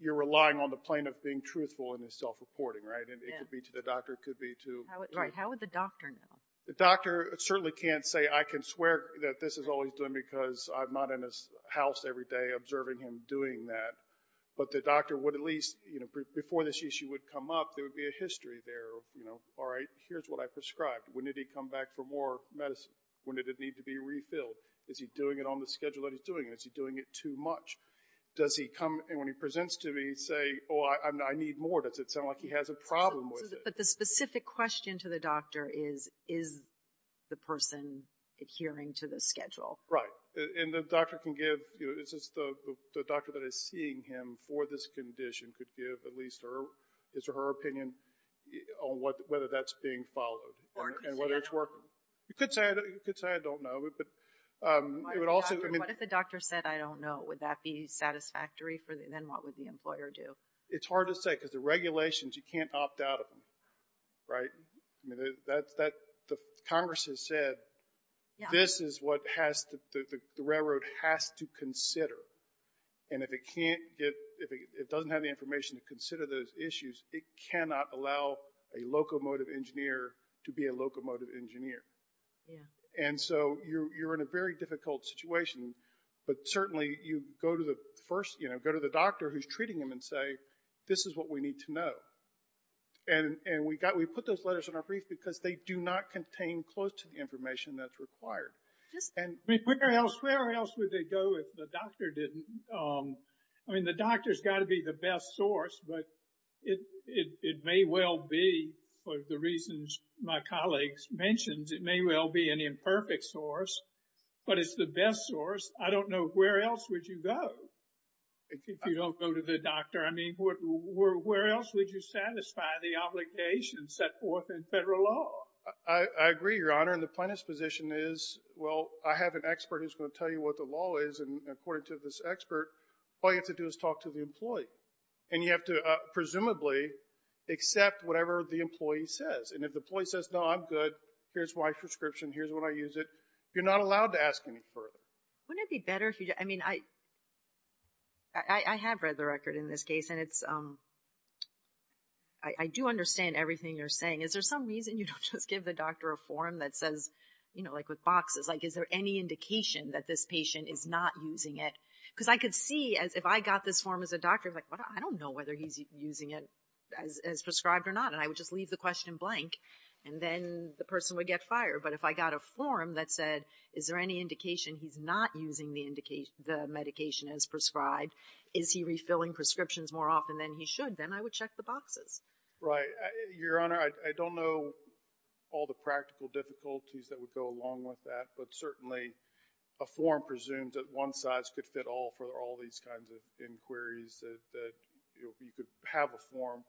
You're relying on the plaintiff being truthful in his self-reporting, right? And it could be to the doctor, it could be to... How would the doctor know? The doctor certainly can't say, I can swear that this is all he's doing because I'm not in his house every day observing him doing that. But the doctor would at least, you know, before this issue would come up, there would be a history there of, you know, all right, here's what I prescribed. When did he come back for more medicine? When did it need to be refilled? Is he doing it on the schedule that he's doing? Is he doing it too much? Does he come and when he presents to me, say, oh, I need more. Does it sound like he has a problem with it? The specific question to the doctor is, is the person adhering to the schedule? Right. And the doctor can give, you know, is this the doctor that is seeing him for this condition could give at least his or her opinion on whether that's being followed and whether it's working. You could say, I don't know, but it would also... What if the doctor said, I don't know, would that be satisfactory? Then what would the employer do? It's hard to say because the regulations, you can't opt out of them, right? The Congress has said, this is what the railroad has to consider. And if it can't get, if it doesn't have the information to consider those issues, it cannot allow a locomotive engineer to be a locomotive engineer. And so you're in a very difficult situation, but certainly you go to the first, you know, go to the doctor who's treating him and say, this is what we need to know. And we put those letters in our brief because they do not contain close to the information that's required. And where else would they go if the doctor didn't? I mean, the doctor's got to be the best source, but it may well be, for the reasons my colleagues mentioned, it may well be an imperfect source, but it's the best source. I don't know, where else would you go if you don't go to the doctor? I mean, where else would you satisfy the obligations set forth in federal law? I agree, Your Honor, and the plaintiff's position is, well, I have an expert who's going to tell you what the law is, and according to this expert, all you have to do is talk to the employee. And you have to presumably accept whatever the employee says. And if the employee says, no, I'm good, here's my prescription, here's when I use it, you're not allowed to ask any further. Wouldn't it be better if you, I mean, I have read the record in this case, and it's, I do understand everything you're saying. Is there some reason you don't just give the doctor a form that says, you know, like with boxes, like, is there any indication that this patient is not using it? Because I could see, if I got this form as a doctor, like, I don't know whether he's using it as prescribed or not. And I would just leave the question blank, and then the person would get fired. But if I got a form that said, is there any indication he's not using the medication as prescribed? Is he refilling prescriptions more often than he should? Then I would check the boxes. Right. Your Honor, I don't know all the practical difficulties that would go along with that. But certainly, a form presumes that one size could fit all for all these kinds of inquiries, that you could have a form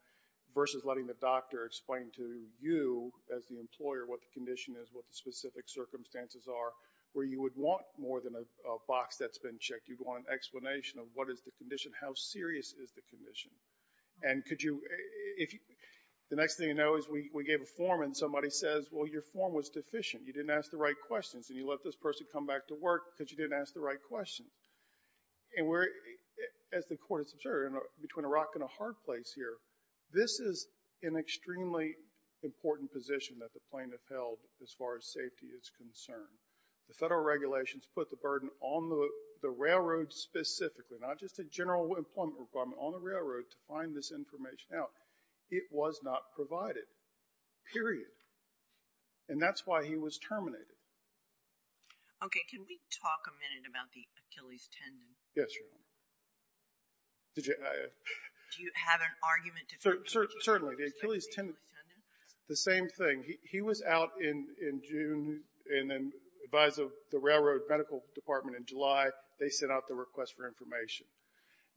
versus letting the doctor explain to you as the employer what the condition is, what the specific circumstances are, where you would want more than a box that's been checked. You'd want an explanation of what is the condition, how serious is the condition. And the next thing you know is we gave a form, and somebody says, well, your form was deficient. You didn't ask the right questions, and you let this person come back to work because you didn't ask the right questions. And as the Court has observed, between a rock and a hard place here, this is an extremely important position that the plaintiff held as far as safety is concerned. The federal regulations put the burden on the railroad specifically, not just a general employment requirement, on the railroad to find this information out. It was not provided, period. And that's why he was terminated. Okay. Can we talk a minute about the Achilles tendon? Yes, Your Honor. Do you have an argument? Certainly. The same thing. He was out in June and then advised of the railroad medical department in July. They sent out the request for information.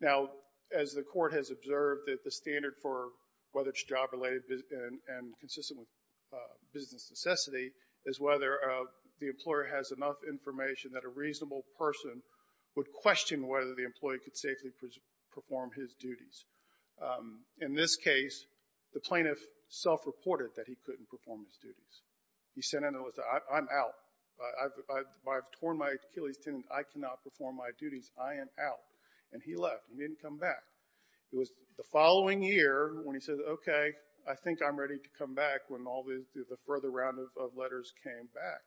Now, as the Court has observed, the standard for whether it's job-related and consistent with business necessity is whether the employer has enough information that a reasonable person would question whether the employee could safely perform his duties. that he couldn't perform his duties. He said, I'm out. I've torn my Achilles tendon. I cannot perform my duties. I am out. And he left. He didn't come back. It was the following year when he said, okay, I think I'm ready to come back when all the further round of letters came back.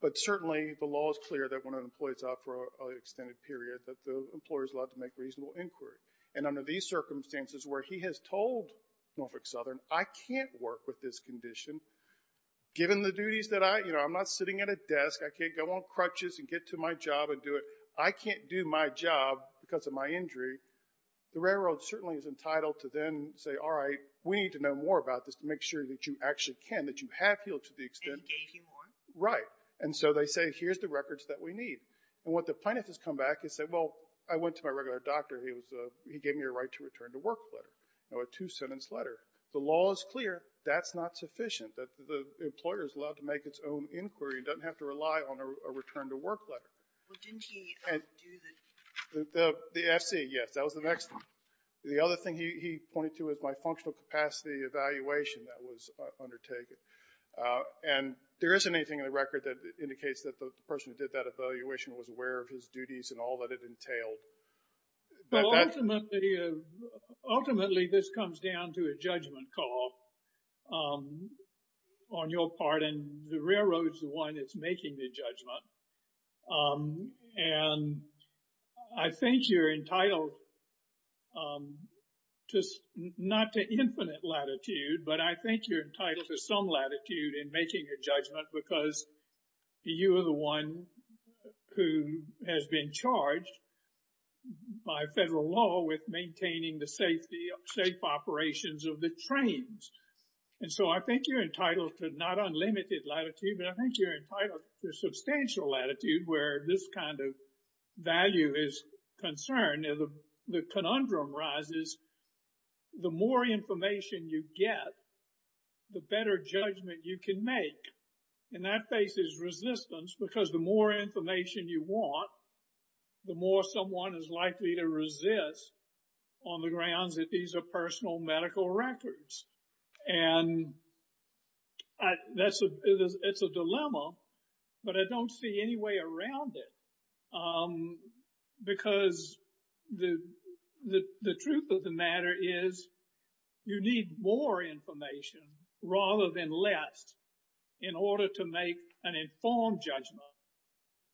But certainly, the law is clear that when an employee is out for an extended period that the employer is allowed to make reasonable inquiry. And under these circumstances where he has told Norfolk Southern, I can't work with this condition. Given the duties that I, you know, I'm not sitting at a desk. I can't go on crutches and get to my job and do it. I can't do my job because of my injury. The railroad certainly is entitled to then say, all right, we need to know more about this to make sure that you actually can, that you have healed to the extent. And he gave you more. Right. And so they say, here's the records that we need. And what the plaintiff has come back and said, well, I went to my regular doctor. He gave me a right to return to work letter, a two-sentence letter. The law is clear. That's not sufficient. That the employer is allowed to make its own inquiry and doesn't have to rely on a return to work letter. Well, didn't he do the... The FC, yes. That was the next one. The other thing he pointed to is my functional capacity evaluation that was undertaken. And there isn't anything in the record that indicates that the person who did that evaluation was aware of his duties and all that it entailed. But ultimately, this comes down to a judgment call on your part. And the railroad is the one that's making the judgment. And I think you're entitled just not to infinite latitude, but I think you're entitled to some latitude in making a judgment because you are the one who has been charged by federal law with maintaining the safe operations of the trains. And so I think you're entitled to not unlimited latitude, but I think you're entitled to substantial latitude where this kind of value is concerned. And the conundrum rises, the more information you get, the better judgment you can make. And that faces resistance because the more information you want, the more someone is likely to resist on the grounds that these are personal medical records. And it's a dilemma, but I don't see any way around it because the truth of the matter is you need more information rather than less in order to make an informed judgment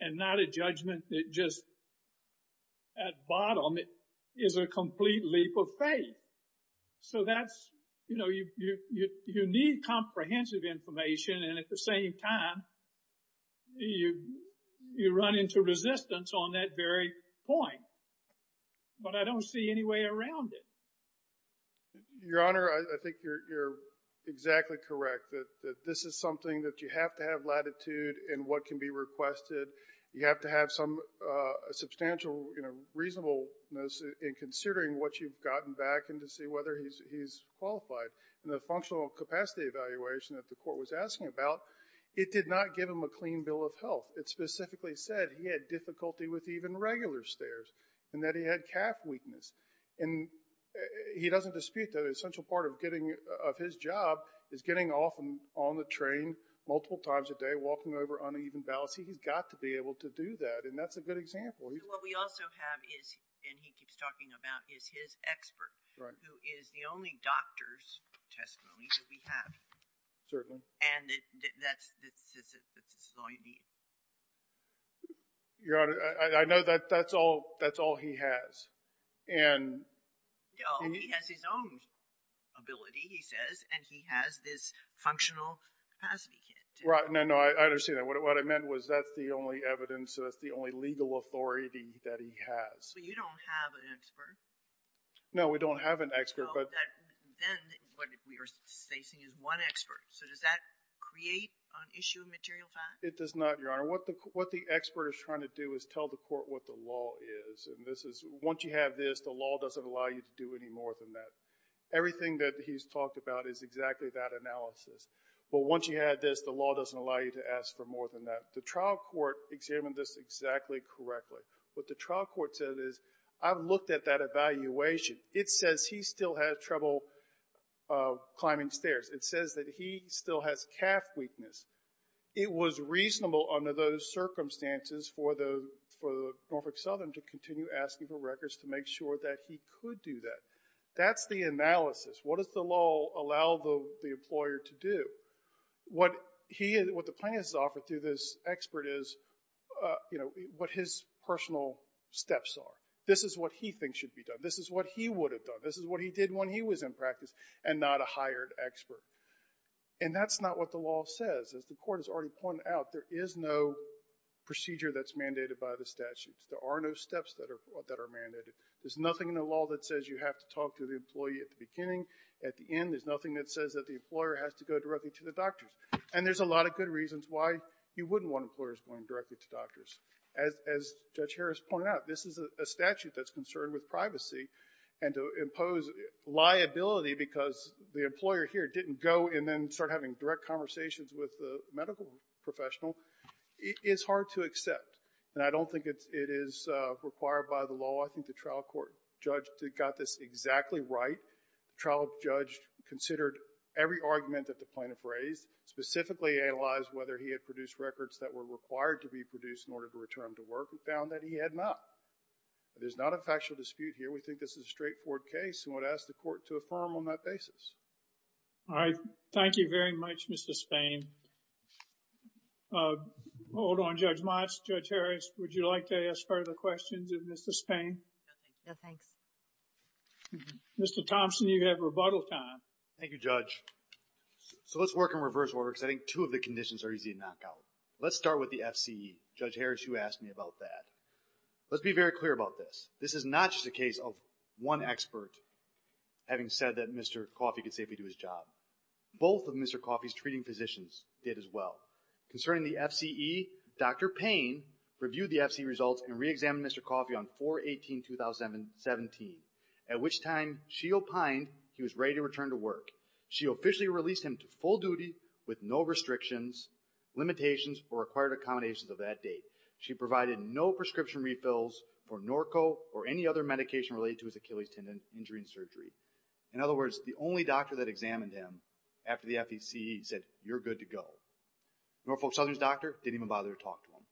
and not a judgment that just at bottom is a complete leap of faith. So that's, you know, you need comprehensive information and at the same time, you run into resistance on that very point. But I don't see any way around it. Your Honor, I think you're exactly correct that this is something that you have to have latitude in what can be requested. You have to have some substantial reasonableness in considering what you've gotten back and to see whether he's qualified. And the functional capacity evaluation that the court was asking about, it did not give him a clean bill of health. It specifically said he had difficulty with even regular stares and that he had calf weakness. And he doesn't dispute that an essential part of his job is getting off and on the train multiple times a day, walking over uneven boughs. He's got to be able to do that. And that's a good example. So what we also have is, and he keeps talking about, is his expert. Right. Who is the only doctor's testimony that we have. Certainly. And that's, this is all you need. Your Honor, I know that that's all he has. And... No, he has his own ability, he says. And he has this functional capacity kit. No, no, I understand that. What I meant was that's the only evidence, so that's the only legal authority that he has. But you don't have an expert. No, we don't have an expert, but... Then what we are stating is one expert. So does that create an issue of material fact? It does not, Your Honor. What the expert is trying to do is tell the court what the law is. And this is, once you have this, the law doesn't allow you to do any more than that. Everything that he's talked about is exactly that analysis. But once you have this, the law doesn't allow you to ask for more than that. The trial court examined this exactly correctly. What the trial court said is, I've looked at that evaluation. It says he still has trouble climbing stairs. It says that he still has calf weakness. It was reasonable under those circumstances for Norfolk Southern to continue asking for records to make sure that he could do that. That's the analysis. What does the law allow the employer to do? What the plaintiff has offered to this expert is what his personal steps are. This is what he thinks should be done. This is what he would have done. This is what he did when he was in practice and not a hired expert. And that's not what the law says. As the court has already pointed out, there is no procedure that's mandated by the statutes. There are no steps that are mandated. There's nothing in the law that says you have to talk to the employee at the beginning, at the end. There's nothing that says that the employer has to go directly to the doctors. And there's a lot of good reasons why you wouldn't want employers going directly to doctors. As Judge Harris pointed out, this is a statute that's concerned with privacy. And to impose liability because the employer here didn't go and then start having direct conversations with the medical professional is hard to accept. And I don't think it is required by the law. I think the trial court judge got this exactly right. The trial judge considered every argument that the plaintiff raised, specifically analyzed whether he had produced records that were required to be produced in order to return to work. We found that he had not. But there's not a factual dispute here. We think this is a straightforward case. And I would ask the court to affirm on that basis. JUDGE LEBEN All right. Thank you very much, Mr. Spain. Hold on, Judge Motz. Judge Harris, would you like to ask further questions of Mr. Spain? JUDGE HARRIS No, thanks. JUDGE SPAIN Mr. Thompson, you have rebuttal time. MR. THOMPSON Thank you, Judge. So let's work in reverse order because I think two of the conditions are easy to knock out. Let's start with the FCE. Judge Harris, you asked me about that. Let's be very clear about this. This is not just a case of one expert having said that Mr. Coffey could safely do his job. Both of Mr. Coffey's treating physicians did as well. Concerning the FCE, Dr. Payne reviewed the FCE results and re-examined Mr. Coffey on 4-18-2017, at which time she opined he was ready to return to work. She officially released him to full duty with no restrictions, limitations, or required accommodations of that date. She provided no prescription refills for Norco or any other medication related to his Achilles tendon injury and surgery. In other words, the only doctor that examined him after the FCE said, you're good to go. Norfolk Southern's doctor didn't even bother to talk to him.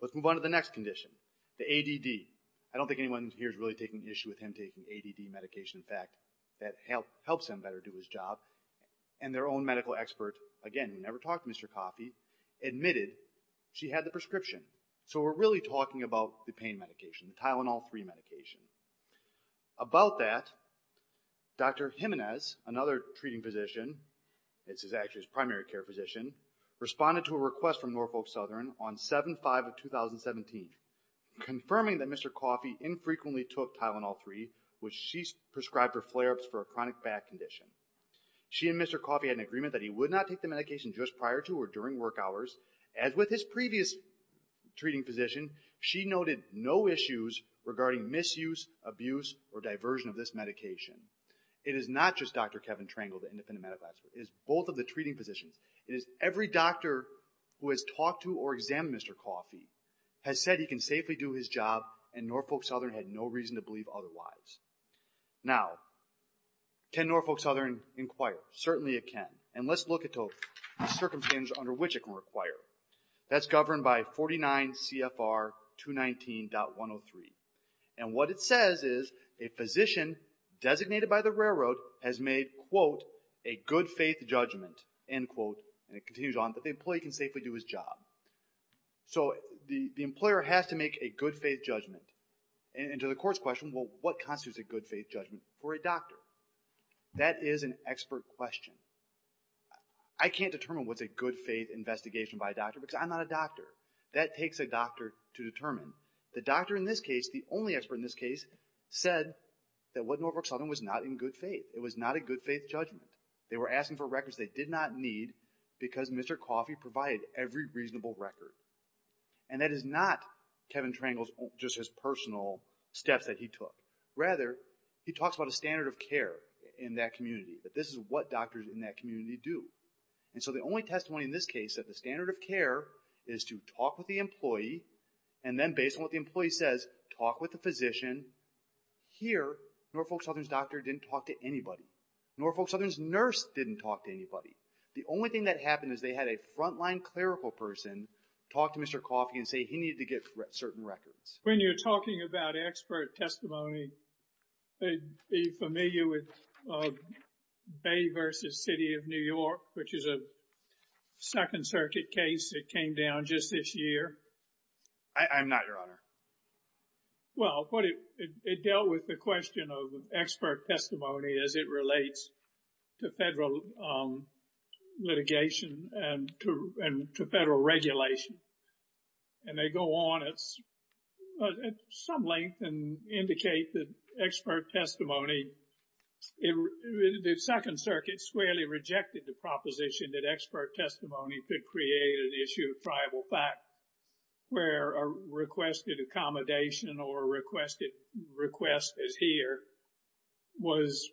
Let's move on to the next condition, the ADD. I don't think anyone here is really taking issue with him taking ADD medication. In fact, that helps him better do his job. And their own medical expert, again, who never talked to Mr. Coffey, admitted she had the prescription. So we're really talking about the pain medication, the Tylenol-3 medication. About that, Dr. Jimenez, another treating physician, this is actually his primary care physician, responded to a request from Norfolk Southern on 7-5-2017, confirming that Mr. Coffey infrequently took Tylenol-3, which she prescribed for flare-ups for a chronic back condition. She and Mr. Coffey had an agreement that he would not take the medication just prior to or during work hours. As with his previous treating physician, she noted no issues regarding misuse, abuse, or diversion of this medication. It is not just Dr. Kevin Trangle, the independent medical expert. It is both of the treating physicians. It is every doctor who has talked to or examined Mr. Coffey has said he can safely do his job, and Norfolk Southern had no reason to believe otherwise. Now, can Norfolk Southern inquire? Certainly it can. And let's look at the circumstances under which it can require. That's governed by 49 CFR 219.103. And what it says is a physician designated by the railroad has made, quote, a good faith judgment, end quote, and it continues on, that the employee can safely do his job. So the employer has to make a good faith judgment. And to the court's question, well, what constitutes a good faith judgment for a doctor? That is an expert question. I can't determine what's a good faith investigation by a doctor because I'm not a doctor. That takes a doctor to determine. The doctor in this case, the only expert in this case, said that what Norfolk Southern was not in good faith. It was not a good faith judgment. They were asking for records they did not need because Mr. Coffey provided every reasonable record. And that is not Kevin Trangle's, just his personal steps that he took. Rather, he talks about a standard of care in that community, that this is what doctors in that community do. And so the only testimony in this case, that the standard of care is to talk with the employee and then based on what the employee says, talk with the physician. Here, Norfolk Southern's doctor didn't talk to anybody. Norfolk Southern's nurse didn't talk to anybody. The only thing that happened is they had a frontline clerical person talk to Mr. Coffey and say he needed to get certain records. When you're talking about expert testimony, are you familiar with Bay v. City of New York, which is a Second Circuit case that came down just this year? I'm not, Your Honor. Well, it dealt with the question of expert testimony as it relates to federal litigation and to federal regulation. And they go on at some length and indicate that expert testimony, the Second Circuit squarely rejected the proposition that expert testimony could create an issue of tribal fact where a requested accommodation or requested request as here was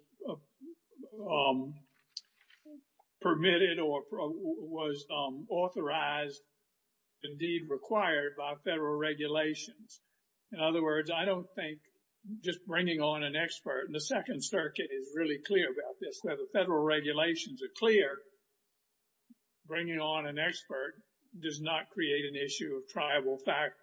permitted or was authorized, indeed required by federal regulations. In other words, I don't think just bringing on an expert, and the Second Circuit is really clear about this, where the federal regulations are clear, bringing on an expert does not create an issue of tribal fact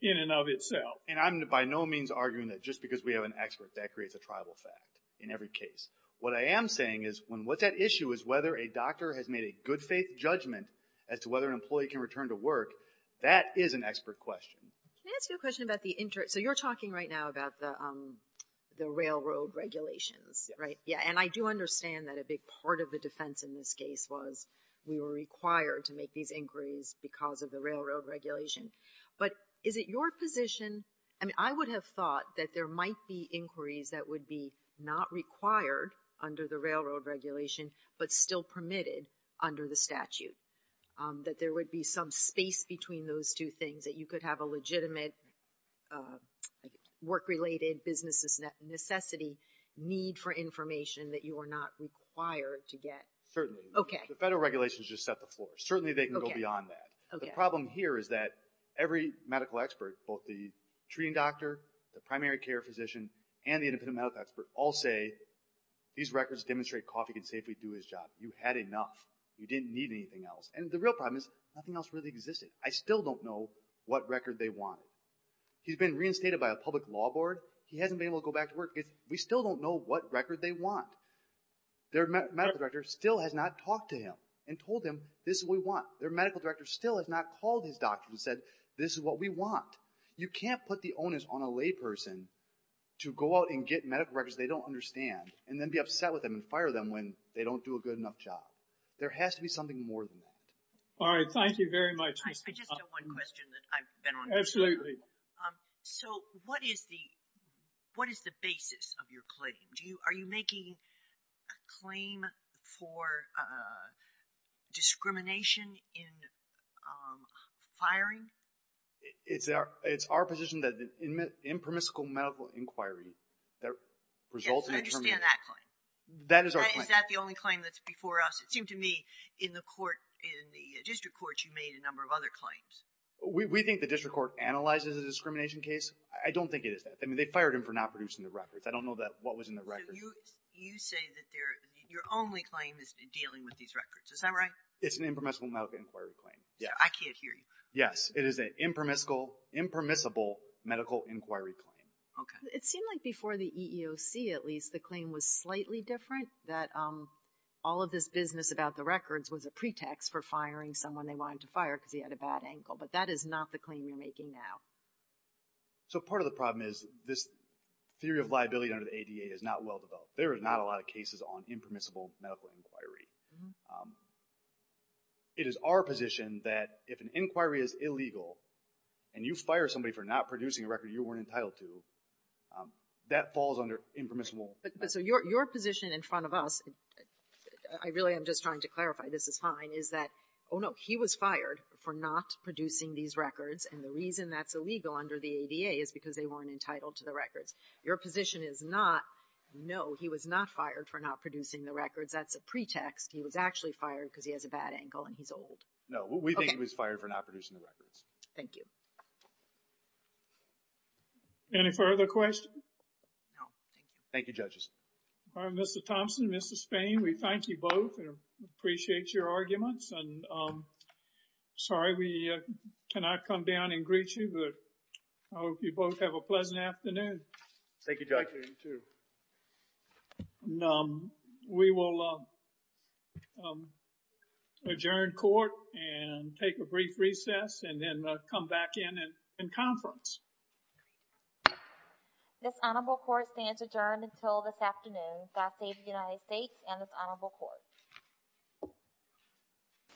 in and of itself. And I'm by no means arguing that just because we have an expert, that creates a tribal fact in every case. What I am saying is when what's at issue is whether a doctor has made a good faith judgment as to whether an employee can return to work, that is an expert question. Can I ask you a question about the interest? So you're talking right now about the railroad regulations, right? Yeah, and I do understand that a big part of the defense in this case was we were required to make these inquiries because of the railroad regulation. But is it your position? I mean, I would have thought that there might be inquiries that would be not required under the railroad regulation, but still permitted under the statute. That there would be some space between those two things, that you could have a legitimate work-related, business necessity need for information that you are not required to get. Certainly. Okay. The federal regulations just set the floor. Certainly they can go beyond that. The problem here is that every medical expert, both the treating doctor, the primary care physician, and the independent medical expert, all say these records demonstrate Coffey can safely do his job. You had enough. You didn't need anything else. And the real problem is nothing else really existed. I still don't know what record they wanted. He's been reinstated by a public law board. He hasn't been able to go back to work. We still don't know what record they want. Their medical director still has not talked to him and told him this is what we want. Their medical director still has not called his doctor and said this is what we want. You can't put the onus on a layperson to go out and get medical records they don't understand and then be upset with them and fire them when they don't do a good enough job. There has to be something more than that. All right. Thank you very much. I just have one question that I've been on. Absolutely. So what is the basis of your claim? Are you making a claim for discrimination in firing? It's our position that the impermissible medical inquiry that results in... I understand that claim. That is our claim. Is that the only claim that's before us? It seemed to me in the court, in the district court, you made a number of other claims. We think the district court analyzes a discrimination case. I don't think it is that. I mean, they fired him for not producing the records. I don't know that what was in the record. You say that your only claim is dealing with these records. Is that right? It's an impermissible medical inquiry claim. Yeah. I can't hear you. Yes, it is an impermissible medical inquiry claim. Okay. It seemed like before the EEOC, at least, the claim was slightly different. That all of this business about the records was a pretext for firing someone they wanted to fire because he had a bad ankle. But that is not the claim you're making now. So part of the problem is this theory of liability under the ADA is not well developed. There are not a lot of cases on impermissible medical inquiry. Um, it is our position that if an inquiry is illegal and you fire somebody for not producing a record you weren't entitled to, that falls under impermissible. So your position in front of us, I really am just trying to clarify, this is fine, is that, oh, no, he was fired for not producing these records. And the reason that's illegal under the ADA is because they weren't entitled to the records. Your position is not, no, he was not fired for not producing the records. That's a pretext. He was actually fired because he has a bad ankle and he's old. No, we think he was fired for not producing the records. Thank you. Any further questions? No, thank you. Thank you, Judges. Mr. Thompson, Mr. Spain, we thank you both and appreciate your arguments. And, um, sorry we cannot come down and greet you, but I hope you both have a pleasant afternoon. Thank you, Judge. Thank you, you too. Um, we will, um, um, adjourn court and take a brief recess and then, uh, come back in and conference. This honorable court stands adjourned until this afternoon. God save the United States and this honorable court.